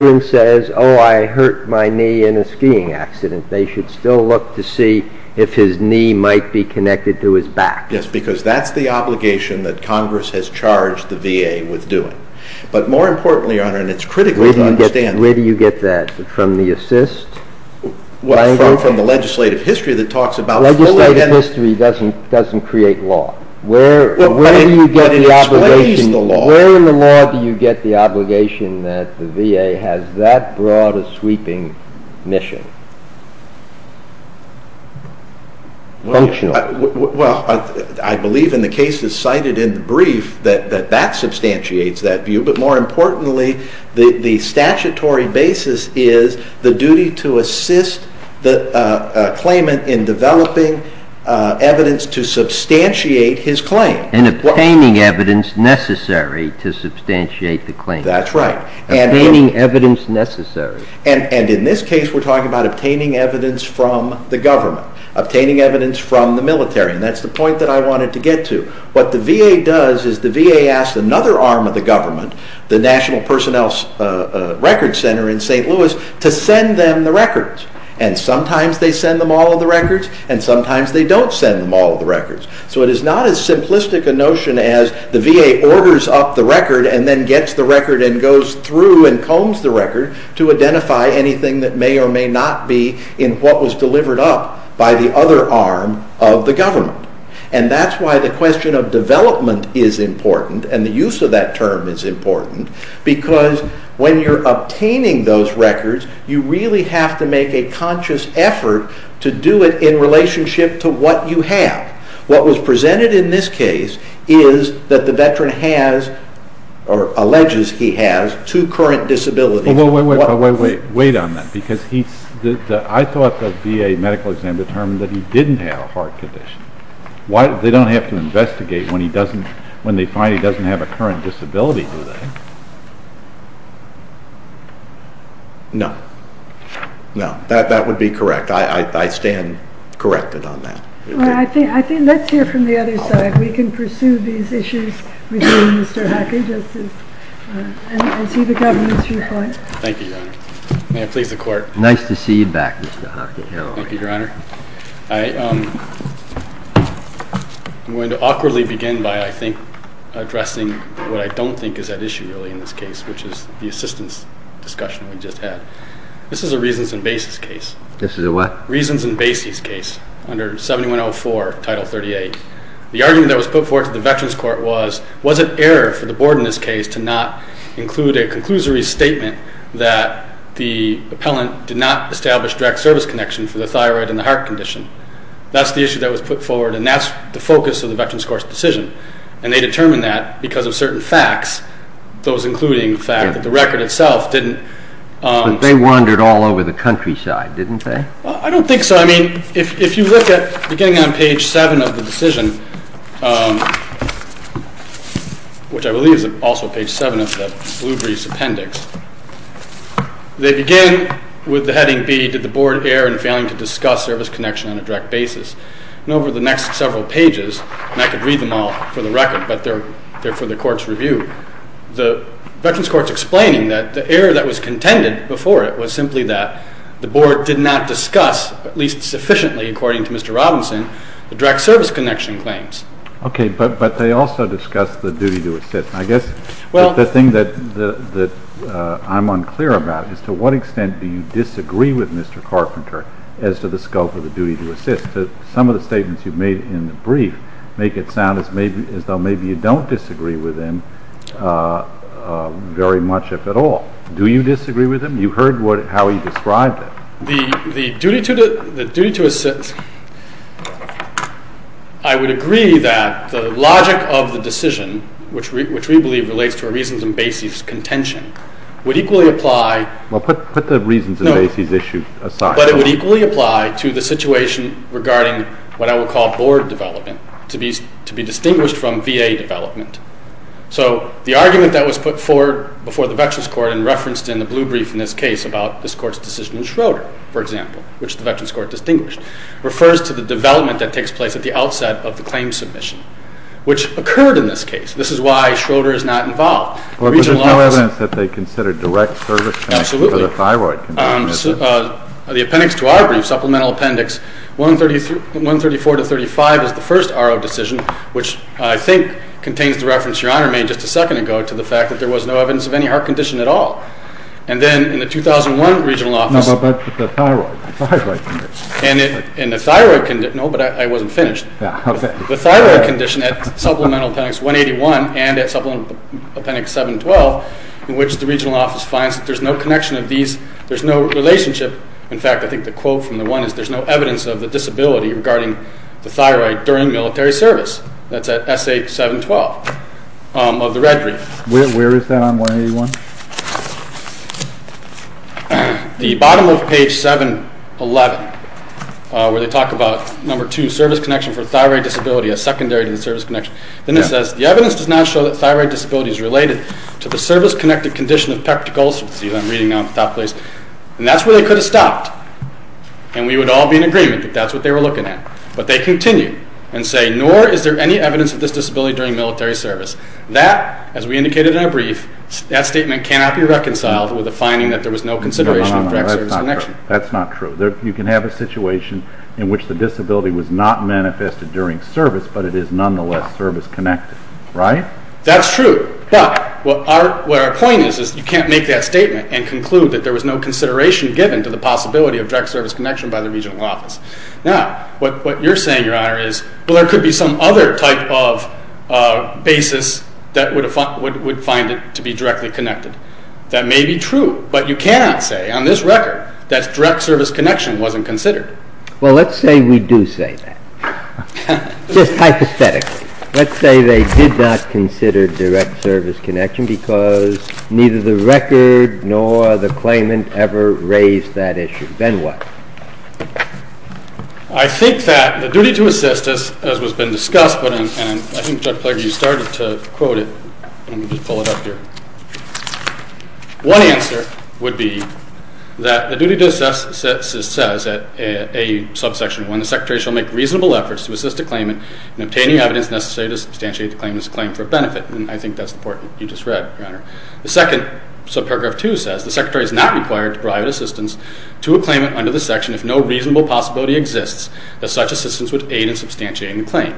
says, oh I hurt my knee in a skiing accident. They should still look to see if his knee might be connected to his back. Yes, because that's the obligation that Congress has charged the VA with doing. But more importantly, Your Honor, and it's critical to understand. Where do you get that? From the assist? Well, from the legislative history that talks about fully. Legislative history doesn't create law. Where in the law do you get the obligation that the VA has that broad a sweeping mission? Functionally. Well, I believe in the cases cited in the brief that that substantiates that view. But more importantly, the statutory basis is the duty to assist the claimant in developing evidence to substantiate his claim. And obtaining evidence necessary to substantiate the claim. That's right. Obtaining evidence necessary. And in this case we're talking about obtaining evidence from the government. Obtaining evidence from the military. And that's the point that I wanted to get to. What the VA does is the VA asks another arm of the government, the National Personnel Records Center in St. Louis, to send them the records. And sometimes they send them all of the records and sometimes they don't send them all of the records. So it is not as simplistic a notion as the VA orders up the record and then gets the record and goes through and combs the record to identify anything that may or may not be in what was delivered up by the other arm of the government. And that's why the question of development is important and the use of that term is important because when you're obtaining those records, you really have to make a conscious effort to do it in relationship to what you have. What was presented in this case is that the veteran has, or alleges he has, two current disabilities. Wait on that. I thought the VA medical exam determined that he didn't have a heart condition. They don't have to investigate when they find he doesn't have a current disability, do they? No. No. That would be correct. I stand corrected on that. Well, I think let's hear from the other side. We can pursue these issues with Mr. Hockey and see the government's report. Thank you, Your Honor. May it please the Court. Nice to see you back, Mr. Hockey. Thank you, Your Honor. I'm going to awkwardly begin by, I think, addressing what I don't think is at issue really in this case, which is the assistance discussion we just had. This is a Reasons and Bases case. This is a what? Reasons and Bases case under 7104, Title 38. The argument that was put forward to the Veterans Court was, was it error for the board in this case to not include a conclusory statement that the appellant did not establish direct service connection for the thyroid and the heart condition? That's the issue that was put forward, and that's the focus of the Veterans Court's decision. And they determined that because of certain facts, those including the fact that the record itself didn't… I don't think so. I mean, if you look at, beginning on page 7 of the decision, which I believe is also page 7 of the Bluebreeze appendix, they begin with the heading, B, did the board err in failing to discuss service connection on a direct basis? And over the next several pages, and I could read them all for the record, but they're for the Court's review. The Veterans Court's explaining that the error that was contended before it was simply that the board did not discuss, at least sufficiently according to Mr. Robinson, the direct service connection claims. Okay, but they also discussed the duty to assist. I guess the thing that I'm unclear about is to what extent do you disagree with Mr. Carpenter as to the scope of the duty to assist? Because some of the statements you've made in the brief make it sound as though maybe you don't disagree with him very much, if at all. Do you disagree with him? You heard how he described it. The duty to assist… I would agree that the logic of the decision, which we believe relates to reasons in Basie's contention, would equally apply… Well, put the reasons in Basie's issue aside. But it would equally apply to the situation regarding what I would call board development, to be distinguished from VA development. So the argument that was put forward before the Veterans Court and referenced in the blue brief in this case about this Court's decision in Schroeder, for example, which the Veterans Court distinguished, refers to the development that takes place at the outset of the claim submission, which occurred in this case. This is why Schroeder is not involved. But there's no evidence that they considered direct service to the thyroid condition, is there? Absolutely. The appendix to our brief, Supplemental Appendix 134-35, is the first RO decision, which I think contains the reference Your Honor made just a second ago to the fact that there was no evidence of any heart condition at all. And then in the 2001 regional office… No, but the thyroid condition. And the thyroid condition… No, but I wasn't finished. The thyroid condition at Supplemental Appendix 181 and at Supplemental Appendix 712, in which the regional office finds that there's no connection of these, there's no relationship. In fact, I think the quote from the one is, there's no evidence of the disability regarding the thyroid during military service. That's at SA 712 of the red brief. Where is that on 181? The bottom of page 711, where they talk about, number two, service connection for thyroid disability as secondary to the service connection. Then it says, the evidence does not show that thyroid disability is related to the service-connected condition of peptic ulcers. See, I'm reading now in the top place. And that's where they could have stopped. And we would all be in agreement that that's what they were looking at. But they continue and say, nor is there any evidence of this disability during military service. That, as we indicated in our brief, that statement cannot be reconciled with the finding that there was no consideration of direct service connection. No, no, no, that's not true. That's not true. You can have a situation in which the disability was not manifested during service, but it is nonetheless service-connected. Right? That's true. But what our point is, is you can't make that statement and conclude that there was no consideration given to the possibility of direct service connection by the regional office. Now, what you're saying, Your Honor, is, well, there could be some other type of basis that would find it to be directly connected. That may be true, but you cannot say on this record that direct service connection wasn't considered. Well, let's say we do say that. Just hypothetically. Let's say they did not consider direct service connection because neither the record nor the claimant ever raised that issue. Then what? I think that the duty to assist, as has been discussed, and I think, Judge Plager, you started to quote it. Let me just pull it up here. One answer would be that the duty to assist says that a subsection 1, the secretary shall make reasonable efforts to assist a claimant in obtaining evidence necessary to substantiate the claimant's claim for benefit. And I think that's the part you just read, Your Honor. The second subparagraph 2 says the secretary is not required to provide assistance to a claimant under the section if no reasonable possibility exists that such assistance would aid in substantiating the claim.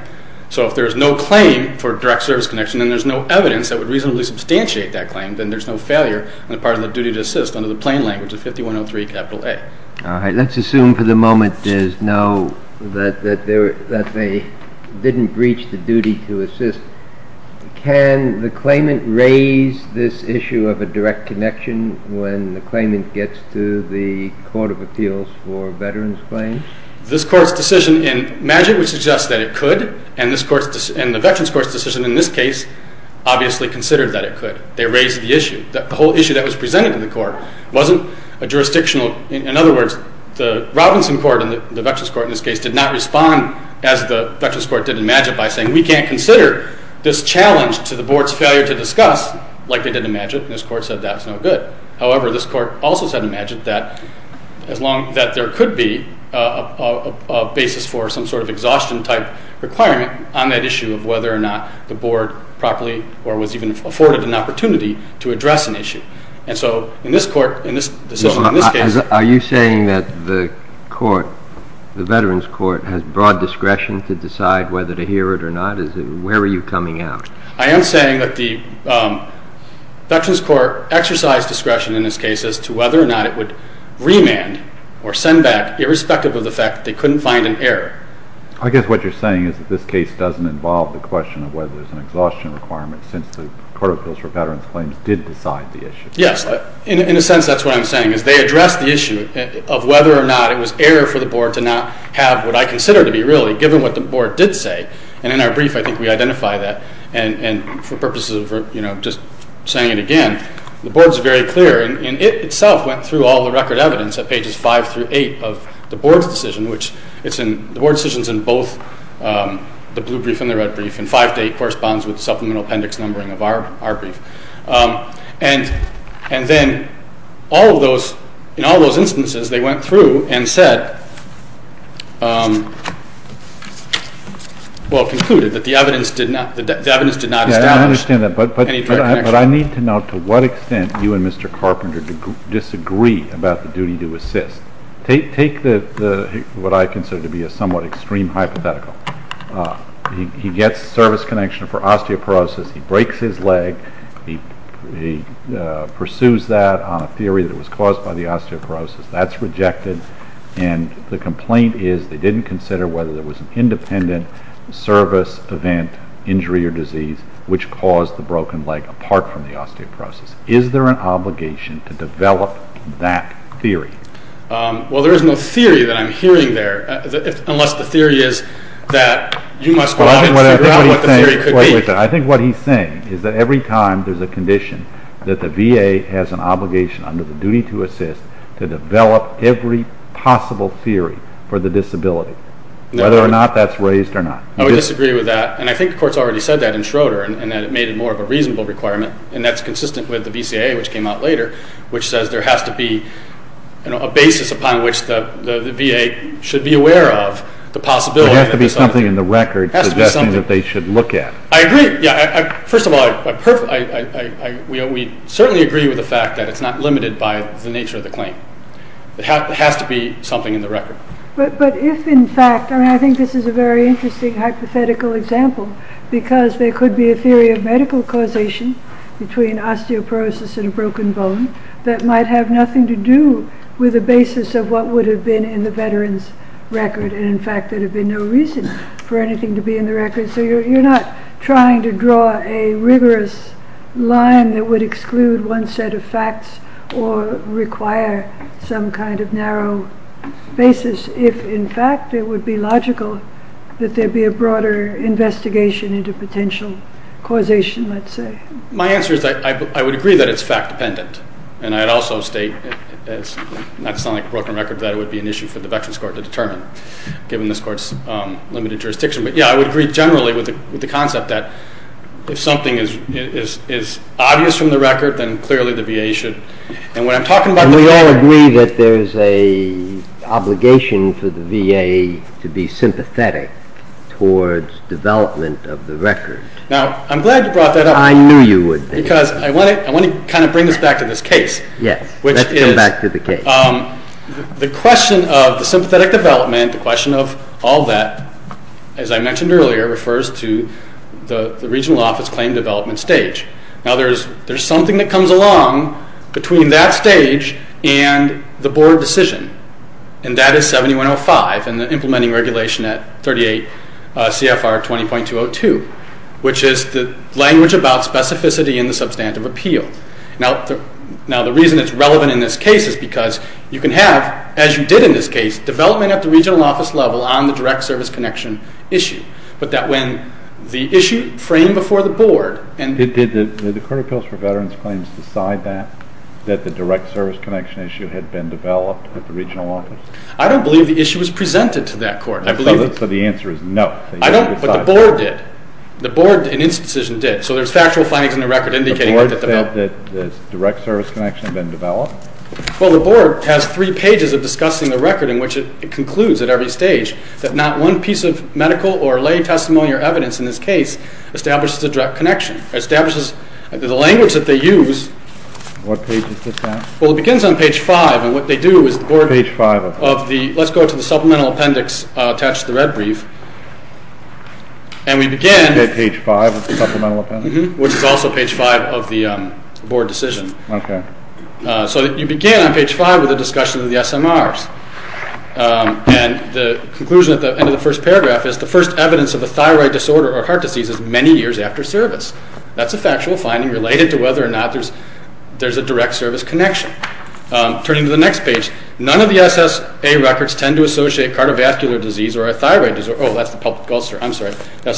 So if there's no claim for direct service connection and there's no evidence that would reasonably substantiate that claim, then there's no failure on the part of the duty to assist under the plain language of 5103 capital A. All right. Let's assume for the moment there's no, that they didn't breach the duty to assist. Can the claimant raise this issue of a direct connection when the claimant gets to the Court of Appeals for Veterans Claims? This Court's decision in Magid would suggest that it could, and the Veterans Court's decision in this case obviously considered that it could. They raised the issue. The whole issue that was presented in the court wasn't a jurisdictional. In other words, the Robinson Court and the Veterans Court in this case did not respond as the Veterans Court did in Magid by saying we can't consider this challenge to the board's failure to discuss like they did in Magid. And this court said that's no good. However, this court also said in Magid that as long as there could be a basis for some sort of exhaustion-type requirement on that issue of whether or not the board properly or was even afforded an opportunity to address an issue. And so in this court, in this decision, in this case- Are you saying that the court, the Veterans Court, has broad discretion to decide whether to hear it or not? Where are you coming out? I am saying that the Veterans Court exercised discretion in this case as to whether or not it would remand or send back irrespective of the fact that they couldn't find an error. I guess what you're saying is that this case doesn't involve the question of whether there's an exhaustion requirement since the Court of Appeals for Veterans Claims did decide the issue. Yes. In a sense, that's what I'm saying, is they addressed the issue of whether or not it was error for the board to not have what I consider to be, really, given what the board did say. And in our brief, I think we identify that. And for purposes of just saying it again, the board is very clear, and it itself went through all the record evidence at pages 5 through 8 of the board's decision. The board's decision is in both the blue brief and the red brief, and 5 to 8 corresponds with supplemental appendix numbering of our brief. And then in all those instances, they went through and concluded that the evidence did not establish any direct connection. Yes, I understand that. But I need to know to what extent you and Mr. Carpenter disagree about the duty to assist. Take what I consider to be a somewhat extreme hypothetical. He gets service connection for osteoporosis. He breaks his leg. He pursues that on a theory that it was caused by the osteoporosis. That's rejected. And the complaint is they didn't consider whether there was an independent service event, injury, or disease, which caused the broken leg, apart from the osteoporosis. Is there an obligation to develop that theory? Well, there is no theory that I'm hearing there, unless the theory is that you must go out and figure out what the theory could be. I think what he's saying is that every time there's a condition that the VA has an obligation under the duty to assist to develop every possible theory for the disability, whether or not that's raised or not. I would disagree with that, and I think the court's already said that in Schroeder, and that it made it more of a reasonable requirement, and that's consistent with the VCA, which came out later, which says there has to be a basis upon which the VA should be aware of the possibility. There has to be something in the record suggesting that they should look at. I agree. First of all, we certainly agree with the fact that it's not limited by the nature of the claim. There has to be something in the record. But if in fact, and I think this is a very interesting hypothetical example, because there could be a theory of medical causation between osteoporosis and a broken bone that might have nothing to do with the basis of what would have been in the veteran's record, and in fact there would have been no reason for anything to be in the record. So you're not trying to draw a rigorous line that would exclude one set of facts or require some kind of narrow basis, if in fact it would be logical that there be a broader investigation into potential causation, let's say. My answer is that I would agree that it's fact-dependent, and I'd also state, and that's not like a broken record, that it would be an issue for the veterans' court to determine, given this court's limited jurisdiction. But yeah, I would agree generally with the concept that if something is obvious from the record, then clearly the VA should. And when I'm talking about the record... And we all agree that there's an obligation for the VA to be sympathetic towards development of the record. Now, I'm glad you brought that up. I knew you would be. Because I want to kind of bring this back to this case. Yes, let's come back to the case. The question of the sympathetic development, the question of all that, as I mentioned earlier, refers to the regional office claim development stage. Now, there's something that comes along between that stage and the board decision, and that is 7105 and the implementing regulation at 38 CFR 20.202, which is the language about specificity in the substantive appeal. Now, the reason it's relevant in this case is because you can have, as you did in this case, development at the regional office level on the direct service connection issue. But that when the issue framed before the board... Did the Court of Appeals for Veterans Claims decide that, that the direct service connection issue had been developed at the regional office? I don't believe the issue was presented to that court. So the answer is no. But the board did. The board, in its decision, did. So there's factual findings in the record indicating that the board... Decided that the direct service connection had been developed? Well, the board has three pages of discussing the record in which it concludes at every stage that not one piece of medical or lay testimony or evidence in this case establishes a direct connection. It establishes the language that they use. What page is this on? Well, it begins on page 5, and what they do is the board... Page 5 of what? Let's go to the supplemental appendix attached to the red brief. And we begin... Is that page 5 of the supplemental appendix? Which is also page 5 of the board decision. Okay. So you begin on page 5 with a discussion of the SMRs. And the conclusion at the end of the first paragraph is, the first evidence of a thyroid disorder or heart disease is many years after service. That's a factual finding related to whether or not there's a direct service connection. Turning to the next page, none of the SSA records tend to associate cardiovascular disease or a thyroid disorder... Oh, that's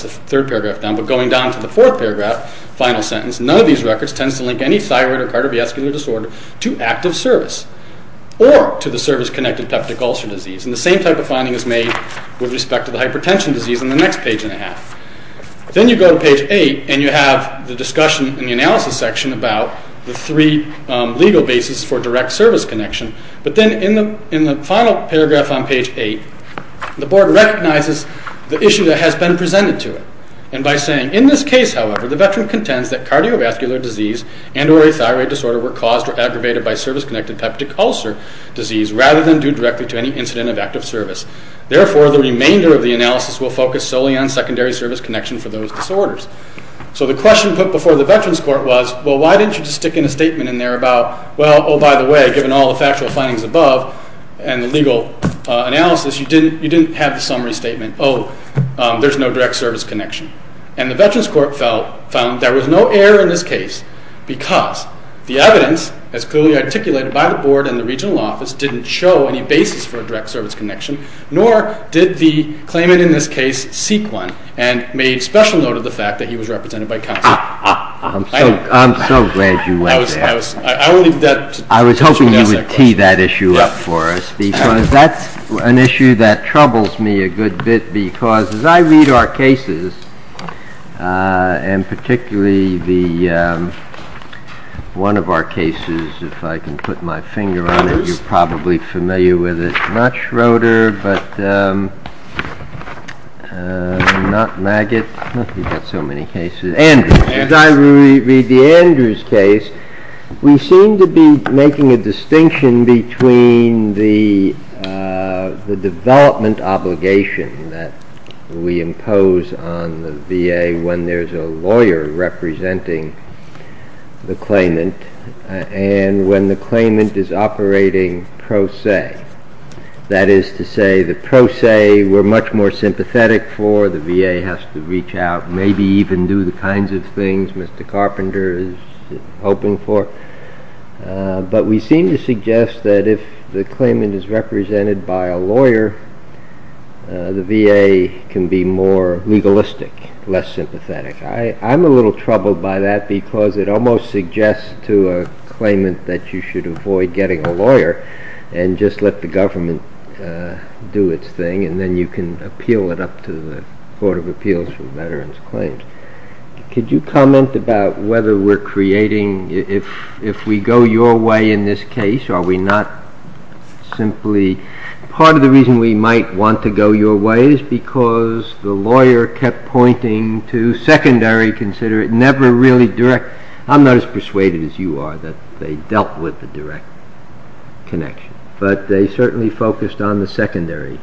the third paragraph down. But going down to the fourth paragraph, final sentence, none of these records tends to link any thyroid or cardiovascular disorder to active service or to the service-connected peptic ulcer disease. And the same type of finding is made with respect to the hypertension disease on the next page and a half. Then you go to page 8, and you have the discussion in the analysis section about the three legal bases for direct service connection. But then in the final paragraph on page 8, the board recognizes the issue that has been presented to it. And by saying, in this case, however, the veteran contends that cardiovascular disease and or a thyroid disorder were caused or aggravated by service-connected peptic ulcer disease rather than due directly to any incident of active service. Therefore, the remainder of the analysis will focus solely on secondary service connection for those disorders. So the question put before the Veterans Court was, well, why didn't you just stick in a statement in there about, well, oh, by the way, given all the factual findings above and the legal analysis, you didn't have the summary statement. Oh, there's no direct service connection. And the Veterans Court found there was no error in this case because the evidence, as clearly articulated by the board and the regional office, didn't show any basis for a direct service connection, nor did the claimant in this case seek one and made special note of the fact that he was represented by counsel. I'm so glad you went there. I was hoping you would tee that issue up for us because that's an issue that troubles me a good bit because as I read our cases, and particularly one of our cases, if I can put my finger on it, you're probably familiar with it. Not Schroeder, but not Maggott. We've got so many cases. Andrews. As I read the Andrews case, we seem to be making a distinction between the development obligation that we impose on the VA when there's a lawyer representing the claimant and when the claimant is operating pro se. That is to say, the pro se we're much more sympathetic for. The VA has to reach out, maybe even do the kinds of things Mr. Carpenter is hoping for. But we seem to suggest that if the claimant is represented by a lawyer, the VA can be more legalistic, less sympathetic. I'm a little troubled by that because it almost suggests to a claimant that you should avoid getting a lawyer and just let the government do its thing and then you can appeal it up to the Court of Appeals for Veterans Claims. Could you comment about whether we're creating... If we go your way in this case, are we not simply... Part of the reason we might want to go your way is because the lawyer kept pointing to secondary, consider it never really direct... I'm not as persuaded as you are that they dealt with the direct connection, but they certainly focused on the secondary,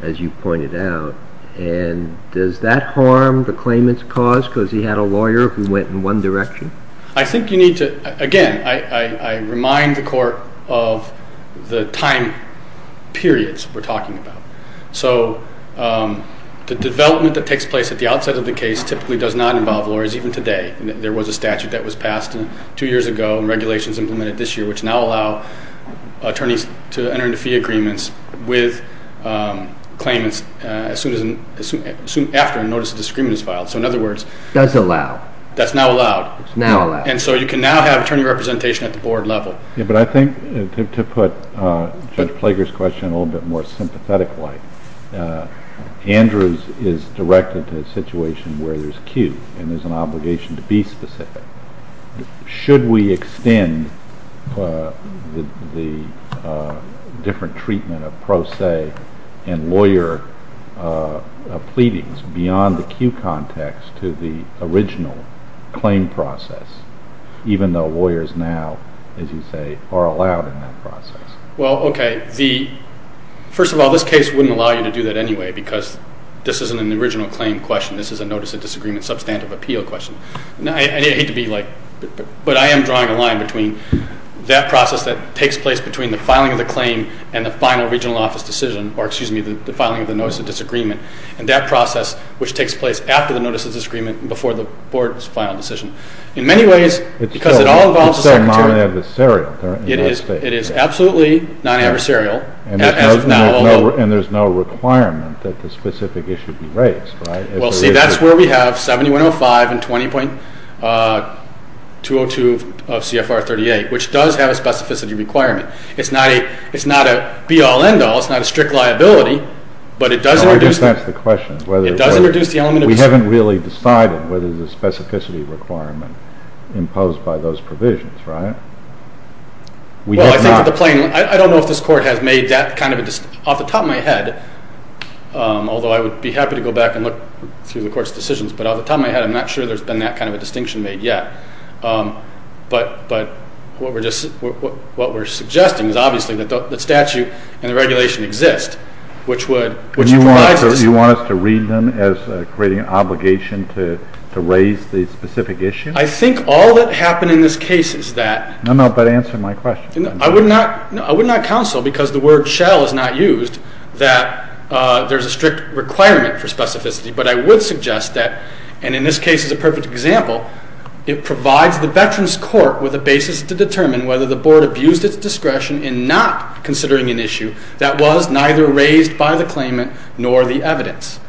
as you pointed out. And does that harm the claimant's cause because he had a lawyer who went in one direction? I think you need to... Again, I remind the Court of the time periods we're talking about. So the development that takes place at the outset of the case typically does not involve lawyers, even today. There was a statute that was passed two years ago and regulations implemented this year which now allow attorneys to enter into fee agreements with claimants as soon after a notice of disagreement is filed. So in other words... It does allow. That's now allowed. Now allowed. And so you can now have attorney representation at the board level. But I think to put Judge Plager's question a little bit more sympathetically, Andrews is directed to a situation where there's a queue Should we extend the different treatment of pro se and lawyer pleadings beyond the queue context to the original claim process, even though lawyers now, as you say, are allowed in that process? Well, okay. First of all, this case wouldn't allow you to do that anyway because this isn't an original claim question. This is a notice of disagreement substantive appeal question. And I hate to be like... But I am drawing a line between that process that takes place between the filing of the claim and the final regional office decision, or, excuse me, the filing of the notice of disagreement, and that process which takes place after the notice of disagreement and before the board's final decision. In many ways, because it all involves the secretary... It's still non-adversarial. It is absolutely non-adversarial. And there's no requirement that the specific issue be raised, right? Well, see, that's where we have 7105 and 20.202 of CFR 38, which does have a specificity requirement. It's not a be-all, end-all. It's not a strict liability. But it does introduce the element of... We haven't really decided whether there's a specificity requirement imposed by those provisions, right? Well, I think that the plain... I don't know if this Court has made that kind of a... Off the top of my head, although I would be happy to go back and look through the Court's decisions, but off the top of my head, I'm not sure there's been that kind of a distinction made yet. But what we're suggesting is, obviously, that the statute and the regulation exist, which would... You want us to read them as creating an obligation to raise the specific issue? I think all that happened in this case is that... No, no, but answer my question. I would not counsel, because the word shall is not used, that there's a strict requirement for specificity. But I would suggest that, and in this case is a perfect example, it provides the Veterans Court with a basis to determine whether the Board abused its discretion in not considering an issue that was neither raised by the claimant nor the evidence.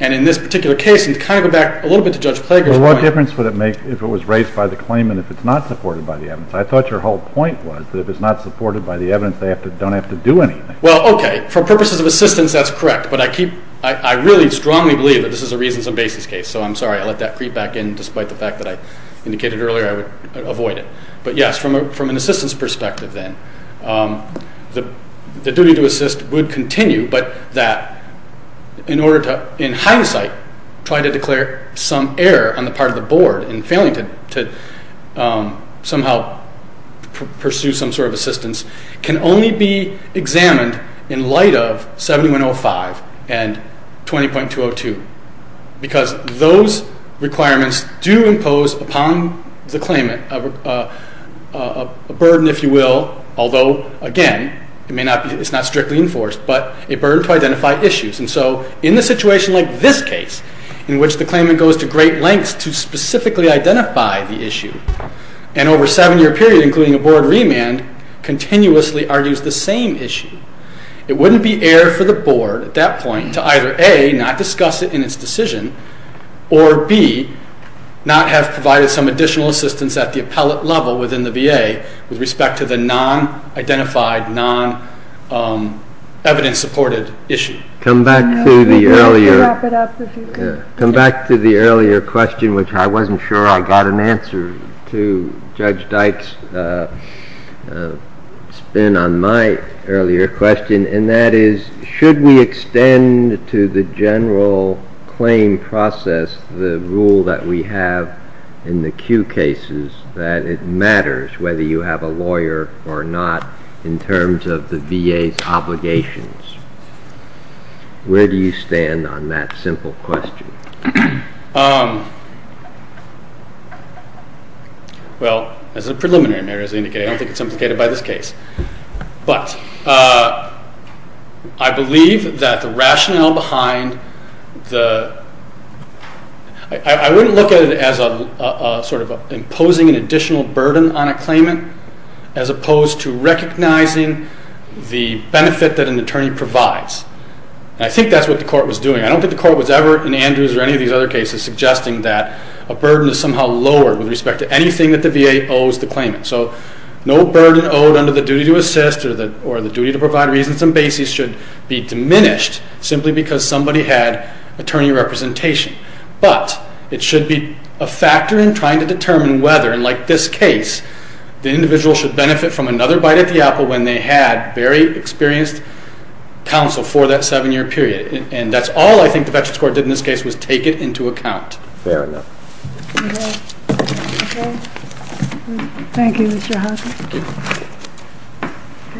And in this particular case, and to kind of go back a little bit to Judge Klager's point... But what difference would it make if it was raised by the claimant if it's not supported by the evidence? I thought your whole point was that if it's not supported by the evidence, they don't have to do anything. Well, okay, for purposes of assistance, that's correct. But I keep... I really strongly believe that this is a reasons and basis case. So I'm sorry, I let that creep back in, despite the fact that I indicated earlier I would avoid it. But yes, from an assistance perspective then, the duty to assist would continue, but that in order to, in hindsight, try to declare some error on the part of the Board in failing to somehow pursue some sort of assistance can only be examined in light of 7105 and 20.202, because those requirements do impose upon the claimant a burden, if you will, although, again, it's not strictly enforced, but a burden to identify issues. And so in a situation like this case, in which the claimant goes to great lengths to specifically identify the issue, and over a seven-year period, including a Board remand, continuously argues the same issue, it wouldn't be error for the Board at that point to either A, not discuss it in its decision, or B, not have provided some additional assistance at the appellate level within the VA with respect to the non-identified, non-evidence-supported issue. Come back to the earlier question, which I wasn't sure I got an answer to Judge Dykes' spin on my earlier question, and that is, should we extend to the general claim process the rule that we have in the Q cases, that it matters whether you have a lawyer or not in terms of the VA's obligations? Where do you stand on that simple question? Well, as a preliminary matter, as I indicated, I don't think it's implicated by this case. But I believe that the rationale behind the... I wouldn't look at it as imposing an additional burden on a claimant, as opposed to recognizing the benefit that an attorney provides. And I think that's what the Court was doing. I don't think the Court was ever, in Andrews or any of these other cases, suggesting that a burden is somehow lowered with respect to anything that the VA owes the claimant. So no burden owed under the duty to assist or the duty to provide reasons and basis should be diminished simply because somebody had attorney representation. But it should be a factor in trying to determine whether, like this case, the individual should benefit from another bite at the apple when they had very experienced counsel for that seven-year period. And that's all I think the Veterans Court did in this case was take it into account. Fair enough. Thank you, Mr. Hoffman. Thank you.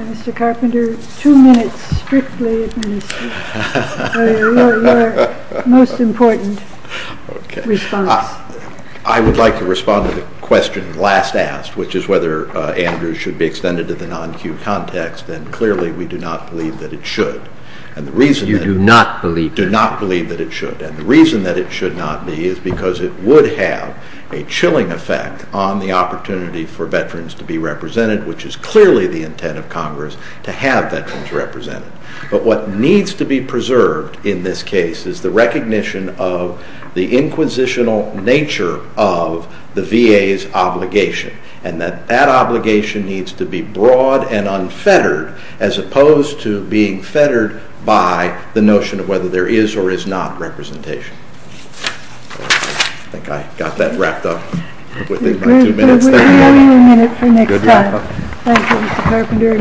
Mr. Carpenter, two minutes strictly, and then we'll see your most important response. I would like to respond to the question last asked, which is whether Andrews should be extended to the non-cued context. And clearly, we do not believe that it should. And the reason that... You do not believe that it should. Do not believe that it should. And the reason that it should not be is because it would have a chilling effect on the opportunity for veterans to be represented, which is clearly the intent of Congress to have veterans represented. But what needs to be preserved in this case is the recognition of the inquisitional nature of the VA's obligation, and that that obligation needs to be broad and unfettered as opposed to being fettered by the notion of whether there is or is not representation. I think I got that wrapped up within my two minutes. Thank you. We'll have one more minute for next time. Thank you, Mr. Carpenter.